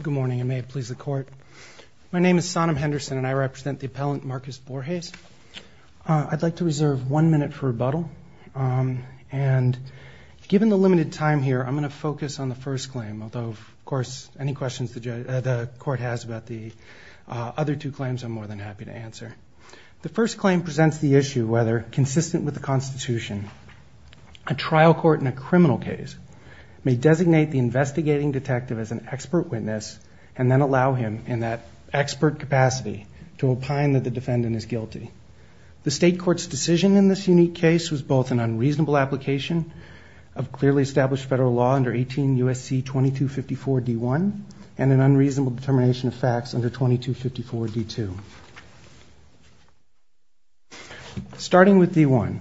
Good morning, and may it please the court. My name is Sonam Henderson, and I represent the appellant Marcus Borges. I'd like to reserve one minute for rebuttal. And given the limited time here, I'm going to focus on the first claim, although, of course, any questions the court has about the other two claims, I'm more than happy to answer. The first claim presents the issue whether, consistent with the Constitution, a trial court in a criminal case may designate the investigating detective as an expert witness and then allow him, in that expert capacity, to opine that the defendant is guilty. The state court's decision in this unique case was both an unreasonable application of clearly established federal law under 18 U.S.C. 2254 D.1 and an unreasonable determination of facts under 2254 D.2. Starting with D.1,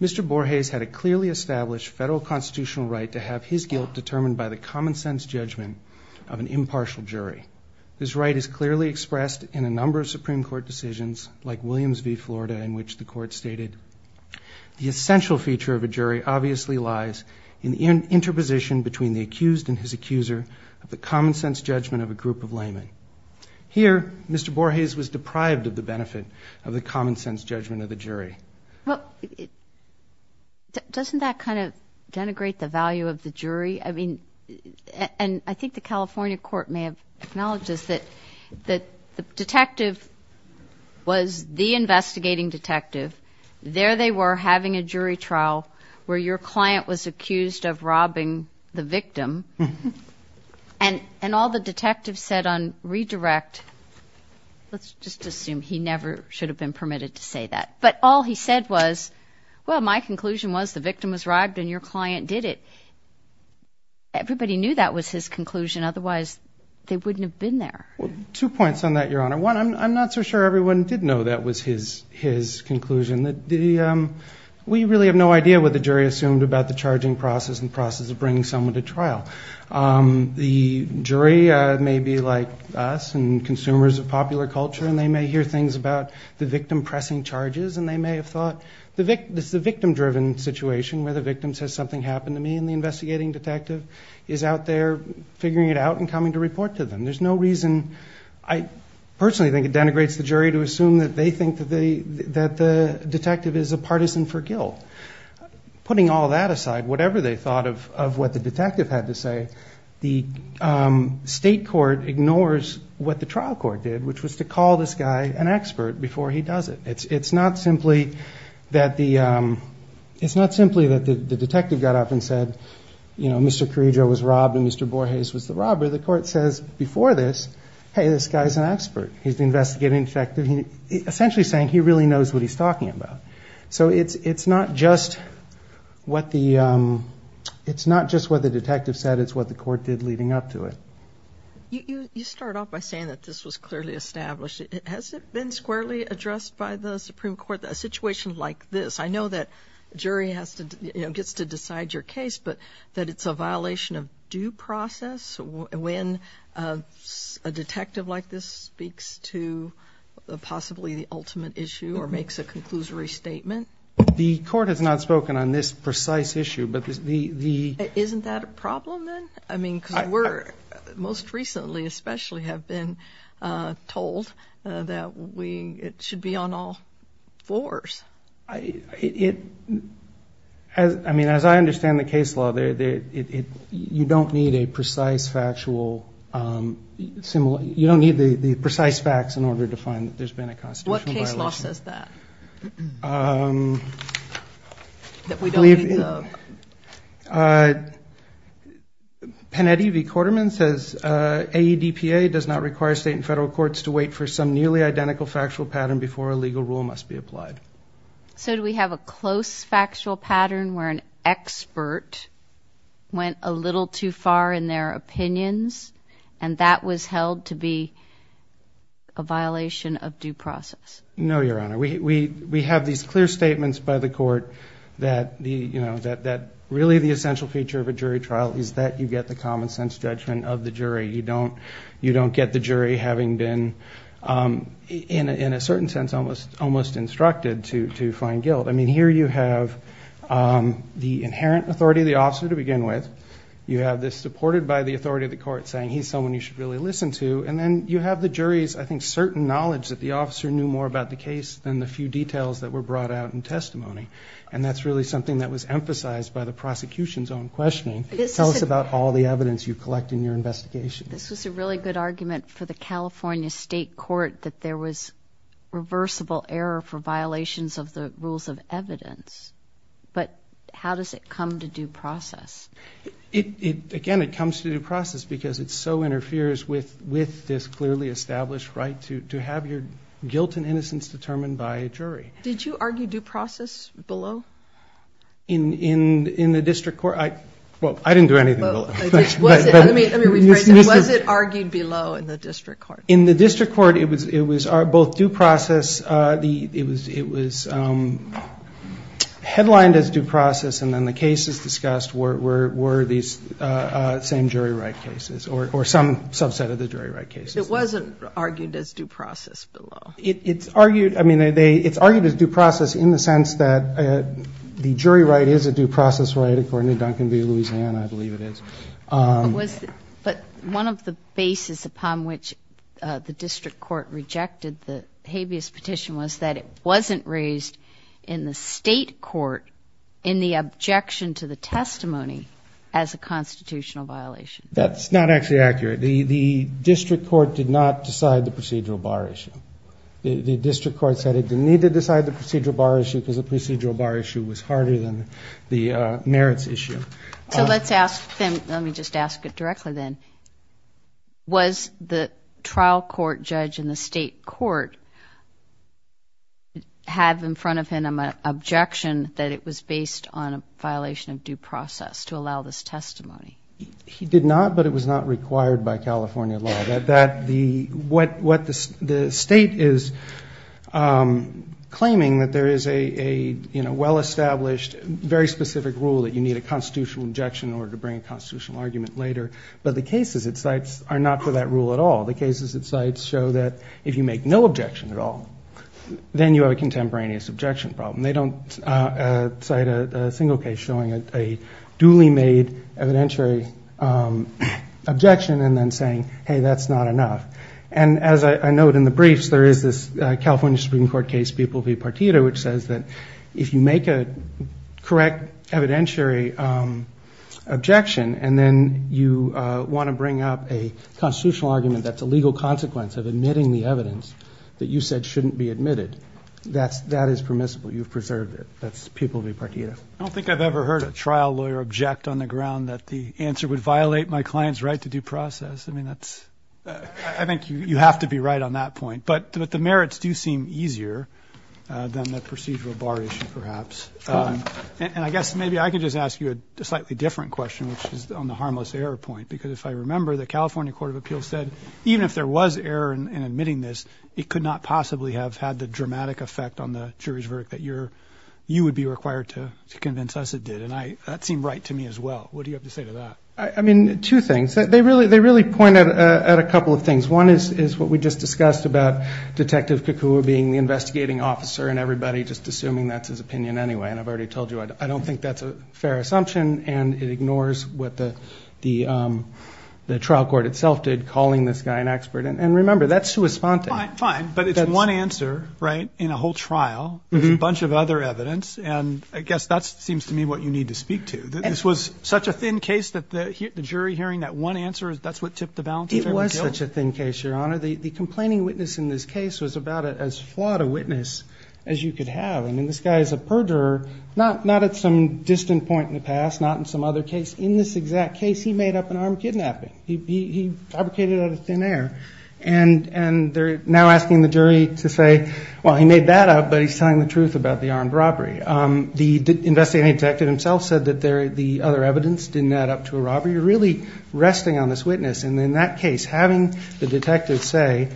Mr. Borges had a clearly established federal constitutional right to have his guilt determined by the common-sense judgment of an impartial jury. This right is clearly expressed in a number of Supreme Court decisions, like Williams v. Florida, in which the court stated, The essential feature of a jury obviously lies in the interposition between the accused and his accuser of the common-sense judgment of a group of laymen. Here, Mr. Borges was deprived of the benefit of the common-sense judgment of the jury. Well, doesn't that kind of denigrate the value of the jury? I mean, and I think the California court may have acknowledged this, that the detective was the investigating detective. There they were having a jury trial where your client was accused of robbing the victim, and all the detectives said on redirect, let's just assume he never should have been permitted to say that. But all he said was, well, my conclusion was the victim was robbed and your client did it. Everybody knew that was his conclusion. Otherwise, they wouldn't have been there. Well, two points on that, Your Honor. One, I'm not so sure everyone did know that was his conclusion. We really have no idea what the jury assumed about the charging process and process of bringing someone to trial. The jury may be like us and consumers of popular culture, and they may hear things about the victim pressing charges, and they may have thought, this is a victim-driven situation where the victim says something happened to me, and the investigating detective is out there figuring it out and coming to report to them. There's no reason. I personally think it denigrates the jury to assume that they think that the detective is a partisan for guilt. Putting all that aside, whatever they thought of what the detective had to say, the state court ignores what the trial court did, which was to call this guy an expert before he does it. It's not simply that the detective got up and said, you know, Mr. Carrillo was robbed and Mr. Borges was the robber. The court says before this, hey, this guy's an expert. He's the investigating detective, essentially saying he really knows what he's talking about. So it's not just what the detective said. It's what the court did leading up to it. You start off by saying that this was clearly established. Has it been squarely addressed by the Supreme Court, a situation like this? I know that a jury gets to decide your case, but that it's a violation of due process when a detective like this speaks to possibly the ultimate issue or makes a conclusory statement. The court has not spoken on this precise issue, but the... Isn't that a problem then? I mean, because we're, most recently especially, have been told that we should be on all fours. I mean, as I understand the case law, you don't need a precise factual, you don't need the precise facts in order to find that there's been a constitutional violation. What case law says that? That we don't need the... Panetti v. Quarterman says AEDPA does not require state and federal courts to wait for some nearly identical factual pattern before a legal rule must be applied. So do we have a close factual pattern where an expert went a little too far in their opinions and that was held to be a violation of due process? No, Your Honor. We have these clear statements by the court that really the essential feature of a jury trial is that you get the common sense judgment of the jury. You don't get the jury having been, in a certain sense, almost instructed to find guilt. I mean, here you have the inherent authority of the officer to begin with. You have this supported by the authority of the court saying he's someone you should really listen to. And then you have the jury's, I think, certain knowledge that the officer knew more about the case than the few details that were brought out in testimony. And that's really something that was emphasized by the prosecution's own questioning. Tell us about all the evidence you collect in your investigation. This was a really good argument for the California State Court that there was reversible error for violations of the rules of evidence. But how does it come to due process? Again, it comes to due process because it so interferes with this clearly established right to have your guilt and innocence determined by a jury. Did you argue due process below? In the district court? Well, I didn't do anything below. Let me rephrase that. Was it argued below in the district court? In the district court, it was both due process, it was headlined as due process, and then the cases discussed were these same jury right cases or some subset of the jury right cases. It wasn't argued as due process below. It's argued as due process in the sense that the jury right is a due process right, according to Duncan v. Louisiana, I believe it is. But one of the bases upon which the district court rejected the habeas petition was that it wasn't raised in the state court in the objection to the testimony as a constitutional violation. That's not actually accurate. The district court did not decide the procedural bar issue. The district court said it didn't need to decide the procedural bar issue because the procedural bar issue was harder than the merits issue. So let's ask them, let me just ask it directly then. Was the trial court judge in the state court have in front of him an objection that it was based on a violation of due process to allow this testimony? He did not, but it was not required by California law. The state is claiming that there is a well-established, very specific rule that you need a constitutional objection in order to bring a constitutional argument later. But the cases it cites are not for that rule at all. The cases it cites show that if you make no objection at all, then you have a contemporaneous objection problem. They don't cite a single case showing a duly made evidentiary objection and then saying, hey, that's not enough. And as I note in the briefs, there is this California Supreme Court case, Pupil v. Partito, which says that if you make a correct evidentiary objection and then you want to bring up a constitutional argument that's a legal consequence of admitting the evidence that you said shouldn't be admitted, that is permissible. You've preserved it. That's Pupil v. Partito. I don't think I've ever heard a trial lawyer object on the ground that the answer would violate my client's right to due process. I mean, that's, I think you have to be right on that point. But the merits do seem easier than the procedural bar issue, perhaps. And I guess maybe I could just ask you a slightly different question, which is on the harmless error point. Because if I remember, the California Court of Appeals said even if there was error in admitting this, it could not possibly have had the dramatic effect on the jury's verdict that you would be required to convince us it did. And that seemed right to me as well. What do you have to say to that? I mean, two things. They really point at a couple of things. One is what we just discussed about Detective Kakua being the investigating officer and everybody just assuming that's his opinion anyway. And I've already told you I don't think that's a fair assumption. And it ignores what the trial court itself did, calling this guy an expert. And remember, that's who was spontaneous. Fine, fine. But it's one answer, right, in a whole trial. There's a bunch of other evidence. And I guess that seems to me what you need to speak to, that this was such a thin case that the jury hearing that one answer, that's what tipped the balance? It was such a thin case, Your Honor. The complaining witness in this case was about as flawed a witness as you could have. I mean, this guy is a perjurer, not at some distant point in the past, not in some other case. In this exact case, he made up an armed kidnapping. He fabricated it out of thin air. And they're now asking the jury to say, well, he made that up, but he's telling the truth about the armed robbery. The investigating detective himself said that the other evidence didn't add up to a robbery. However, you're really resting on this witness. And in that case, having the detective say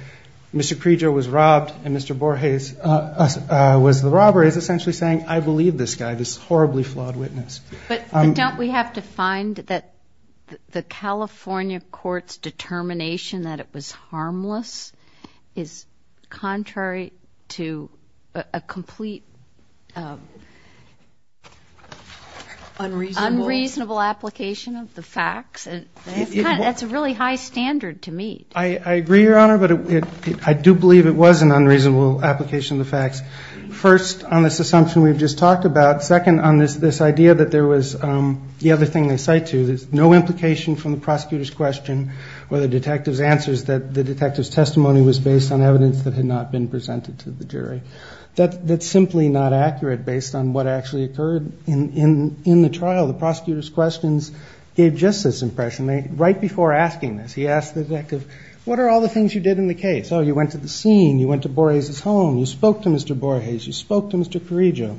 Mr. Creeger was robbed and Mr. Borges was the robber is essentially saying, I believe this guy, this horribly flawed witness. But don't we have to find that the California court's determination that it was harmless is contrary to a complete unreasonable application of the facts? That's a really high standard to meet. I agree, Your Honor, but I do believe it was an unreasonable application of the facts. First, on this assumption we've just talked about. Second, on this idea that there was the other thing they cite to, there's no implication from the prosecutor's question or the detective's answers that the detective's testimony was based on evidence that had not been presented to the jury. That's simply not accurate based on what actually occurred in the trial. The prosecutor's questions gave just this impression. Right before asking this, he asked the detective, what are all the things you did in the case? Oh, you went to the scene. You went to Borges' home. You spoke to Mr. Borges. You spoke to Mr. Creeger,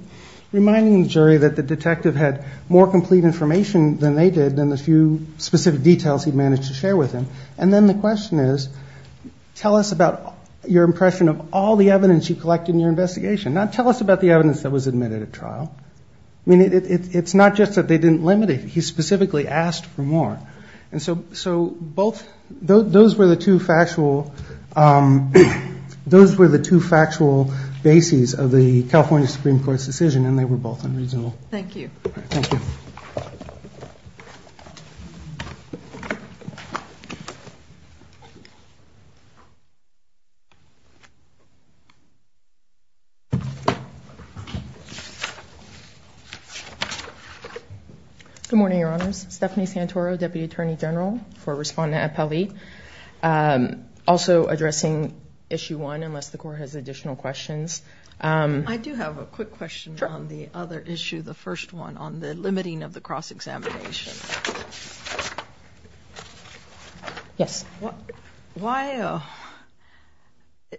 reminding the jury that the detective had more complete information than they did and the few specific details he managed to share with them. And then the question is, tell us about your impression of all the evidence you collected in your investigation. Not tell us about the evidence that was admitted at trial. I mean, it's not just that they didn't limit it. He specifically asked for more. And so those were the two factual bases of the California Supreme Court's decision, and they were both unreasonable. Thank you. Thank you. Good morning, Your Honors. Stephanie Santoro, Deputy Attorney General for Respondent Appellee. Also addressing Issue 1, unless the Court has additional questions. I do have a quick question on the other issue, the first one, on the limiting of the cross-examination. Yes.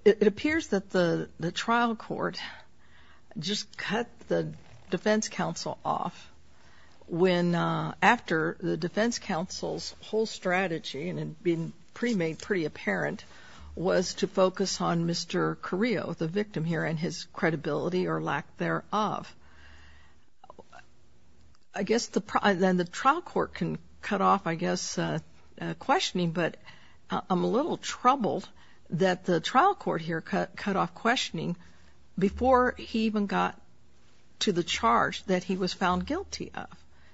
It appears that the trial court just cut the defense counsel off after the defense counsel's whole strategy, and it had been pre-made pretty apparent, was to focus on Mr. Carrillo, the victim here, and his credibility or lack thereof. I guess the trial court can cut off, I guess, questioning, but I'm a little troubled that the trial court here cut off questioning before he even got to the charge that he was found guilty of.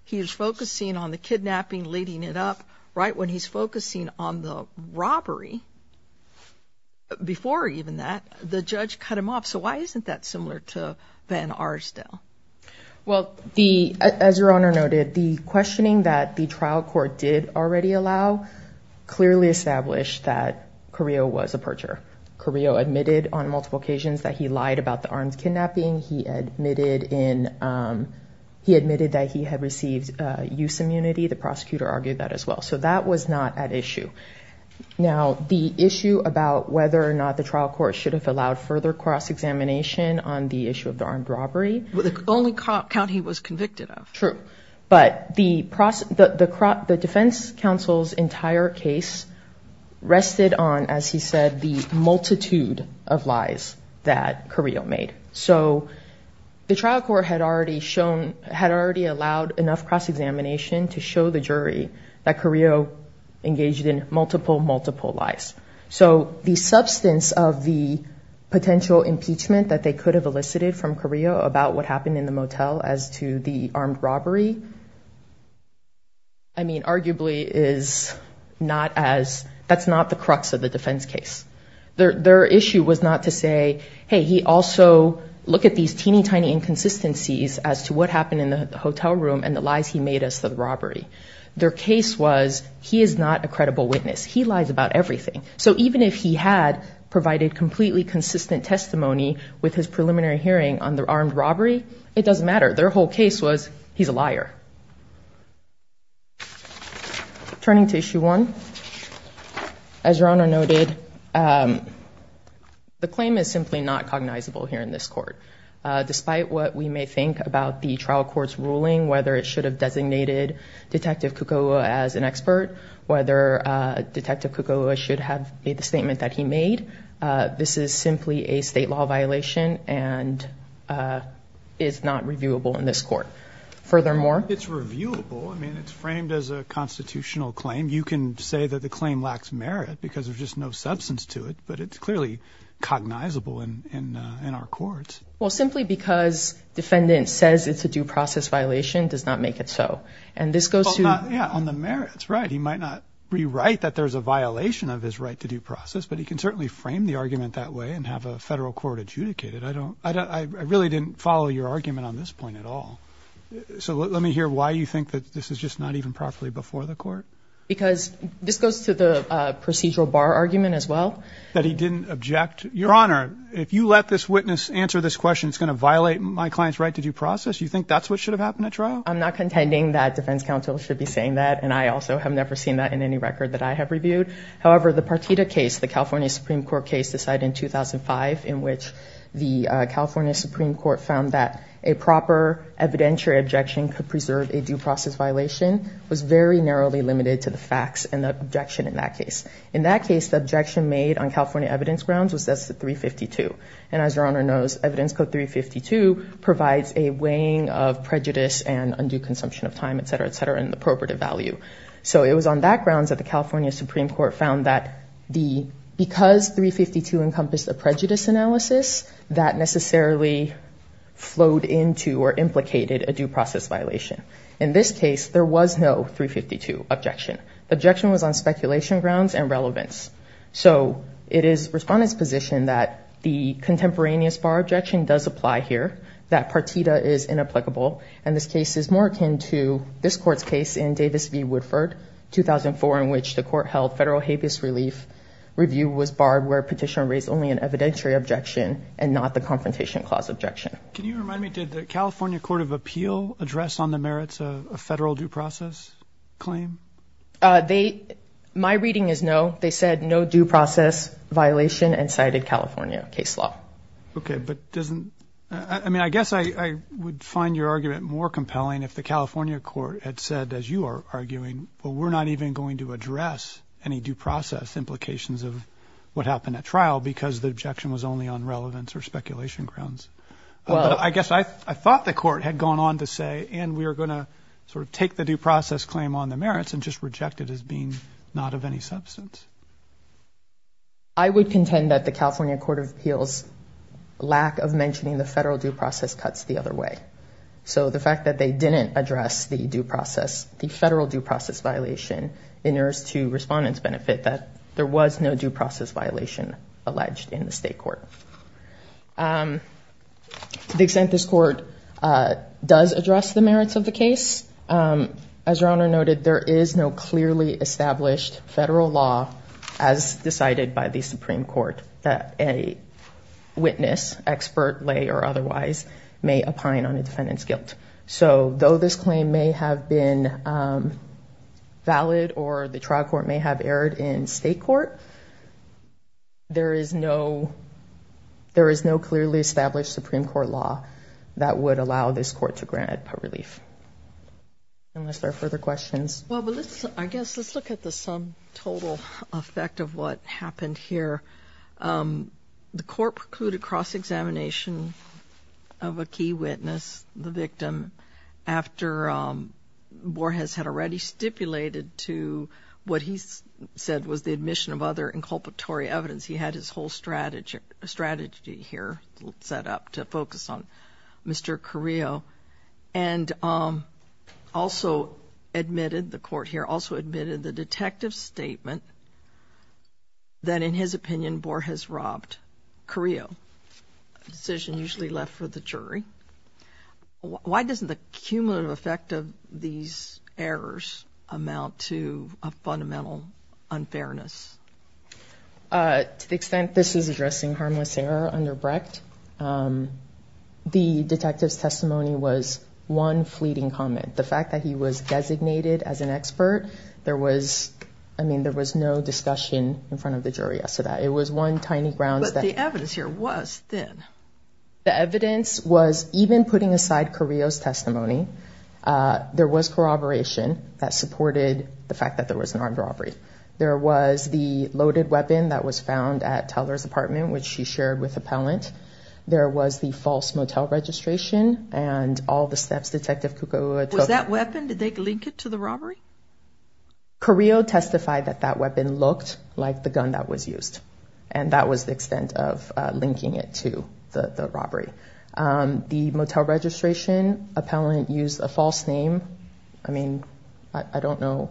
He was focusing on the kidnapping, leading it up. Right when he's focusing on the robbery, before even that, the judge cut him off. So why isn't that similar to Van Arsdale? Well, as Your Honor noted, the questioning that the trial court did already allow clearly established that Carrillo was a perjurer. Carrillo admitted on multiple occasions that he lied about the armed kidnapping. He admitted that he had received use immunity. The prosecutor argued that as well. So that was not at issue. Now, the issue about whether or not the trial court should have allowed further cross-examination on the issue of the armed robbery. The only count he was convicted of. True. But the defense counsel's entire case rested on, as he said, the multitude of lies that Carrillo made. So the trial court had already allowed enough cross-examination to show the jury that Carrillo engaged in multiple, multiple lies. So the substance of the potential impeachment that they could have elicited from Carrillo about what happened in the motel as to the armed robbery. I mean, arguably, that's not the crux of the defense case. Their issue was not to say, hey, he also, look at these teeny tiny inconsistencies as to what happened in the hotel room and the lies he made as to the robbery. Their case was, he is not a credible witness. He lies about everything. So even if he had provided completely consistent testimony with his preliminary hearing on the armed robbery, it doesn't matter. Turning to issue one. As your Honor noted, the claim is simply not cognizable here in this court. Despite what we may think about the trial court's ruling, whether it should have designated Detective Kukoua as an expert, whether Detective Kukoua should have made the statement that he made, this is simply a state law violation and is not reviewable in this court. Furthermore, it's reviewable. I mean, it's framed as a constitutional claim. You can say that the claim lacks merit because there's just no substance to it. But it's clearly cognizable in our courts. Well, simply because defendants says it's a due process violation does not make it so. And this goes to the merits. Right. He might not be right that there's a violation of his right to due process, but he can certainly frame the argument that way and have a federal court adjudicated. I don't I really didn't follow your argument on this point at all. So let me hear why you think that this is just not even properly before the court. Because this goes to the procedural bar argument as well. That he didn't object. Your Honor, if you let this witness answer this question, it's going to violate my client's right to due process. You think that's what should have happened at trial? I'm not contending that defense counsel should be saying that. And I also have never seen that in any record that I have reviewed. However, the Partita case, the California Supreme Court case decided in 2005 in which the California Supreme Court found that a proper evidentiary objection could preserve a due process violation was very narrowly limited to the facts and the objection in that case. In that case, the objection made on California evidence grounds was that's the 352. And as your Honor knows, evidence code 352 provides a weighing of prejudice and undue consumption of time, et cetera, et cetera, and the appropriative value. So it was on that grounds that the California Supreme Court found that because 352 encompassed a prejudice analysis, that necessarily flowed into or implicated a due process violation. In this case, there was no 352 objection. The objection was on speculation grounds and relevance. So it is respondent's position that the contemporaneous bar objection does apply here, that Partita is inapplicable. And this case is more akin to this court's case in Davis v. Woodford, 2004, in which the court held federal habeas relief review was barred where petitioner raised only an evidentiary objection and not the confrontation clause objection. Can you remind me, did the California Court of Appeal address on the merits of a federal due process claim? They my reading is no. They said no due process violation and cited California case law. OK, but doesn't I mean, I guess I would find your argument more compelling if the California court had said, as you are arguing, well, we're not even going to address any due process implications of what happened at trial because the objection was only on relevance or speculation grounds. I guess I thought the court had gone on to say, and we are going to sort of take the due process claim on the merits and just reject it as being not of any substance. I would contend that the California Court of Appeals lack of mentioning the federal due process cuts the other way. So the fact that they didn't address the due process, the federal due process violation in there is to respondents benefit that there was no due process violation alleged in the state court. To the extent this court does address the merits of the case. As your honor noted, there is no clearly established federal law as decided by the Supreme Court that a witness expert lay or otherwise may opine on a defendant's guilt. So though this claim may have been valid or the trial court may have erred in state court. There is no there is no clearly established Supreme Court law that would allow this court to grant relief. Unless there are further questions. Well, I guess let's look at the sum total effect of what happened here. The court precluded cross-examination of a key witness, the victim. After Borges had already stipulated to what he said was the admission of other inculpatory evidence. He had his whole strategy here set up to focus on Mr. Carrillo. And also admitted the court here also admitted the detective statement. That in his opinion, Borges robbed Carrillo decision usually left for the jury. Why doesn't the cumulative effect of these errors amount to a fundamental unfairness? To the extent this is addressing harmless error under Brecht. The detective's testimony was one fleeting comment. The fact that he was designated as an expert. There was I mean, there was no discussion in front of the jury. So that it was one tiny grounds that the evidence here was thin. The evidence was even putting aside Carrillo's testimony. There was corroboration that supported the fact that there was an armed robbery. There was the loaded weapon that was found at Teller's apartment, which she shared with appellant. There was the false motel registration. And all the steps Detective Kukuwa took. Was that weapon, did they link it to the robbery? Carrillo testified that that weapon looked like the gun that was used. And that was the extent of linking it to the robbery. The motel registration, appellant used a false name. I mean, I don't know.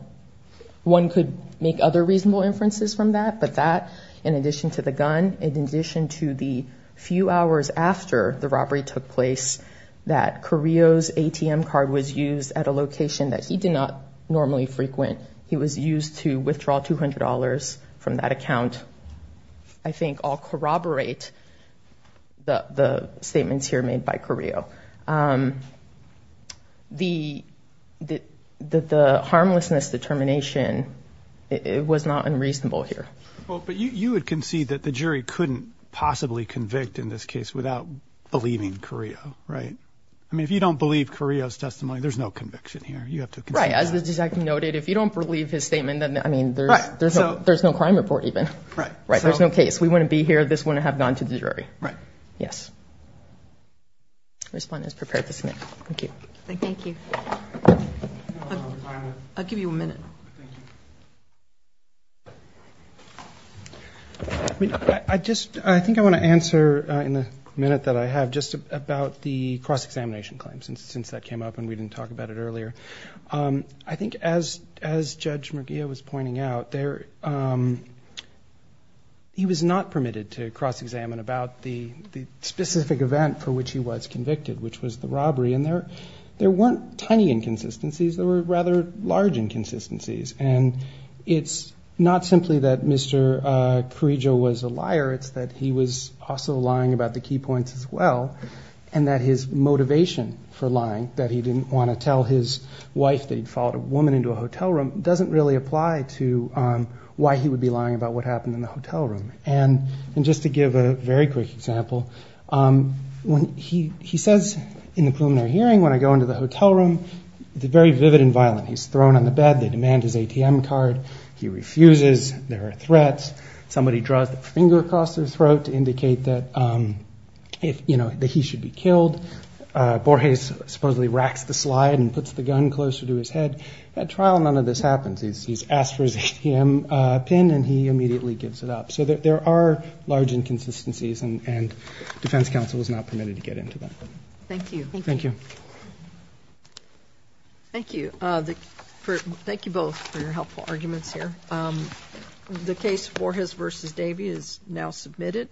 One could make other reasonable inferences from that. But that, in addition to the gun, in addition to the few hours after the robbery took place. That Carrillo's ATM card was used at a location that he did not normally frequent. He was used to withdraw $200 from that account. I think I'll corroborate the statements here made by Carrillo. The harmlessness determination was not unreasonable here. But you would concede that the jury couldn't possibly convict in this case without believing Carrillo, right? I mean, if you don't believe Carrillo's testimony, there's no conviction here. You have to concede that. Right, as the detective noted, if you don't believe his statement, then there's no crime report even. There's no case. We wouldn't be here. This wouldn't have gone to the jury. Right. Yes. Respondents, prepare to submit. Thank you. Thank you. I'll give you a minute. Thank you. I just, I think I want to answer in the minute that I have just about the cross-examination claims. Since that came up and we didn't talk about it earlier. I think as Judge Murguia was pointing out, he was not permitted to cross-examine about the specific event for which he was convicted, which was the robbery. And there weren't tiny inconsistencies. There were rather large inconsistencies. And it's not simply that Mr. Carrillo was a liar. It's that he was also lying about the key points as well. And that his motivation for lying, that he didn't want to tell his wife that he'd followed a woman into a hotel room, doesn't really apply to why he would be lying about what happened in the hotel room. And just to give a very quick example, he says in the preliminary hearing, when I go into the hotel room, it's very vivid and violent. He's thrown on the bed. They demand his ATM card. He refuses. There are threats. Somebody draws their finger across their throat to indicate that he should be killed. Borges supposedly racks the slide and puts the gun closer to his head. At trial, none of this happens. He's asked for his ATM pin, and he immediately gives it up. So there are large inconsistencies, and defense counsel is not permitted to get into them. Thank you. Thank you. Thank you. Thank you both for your helpful arguments here. The case Borges v. Davey is now submitted.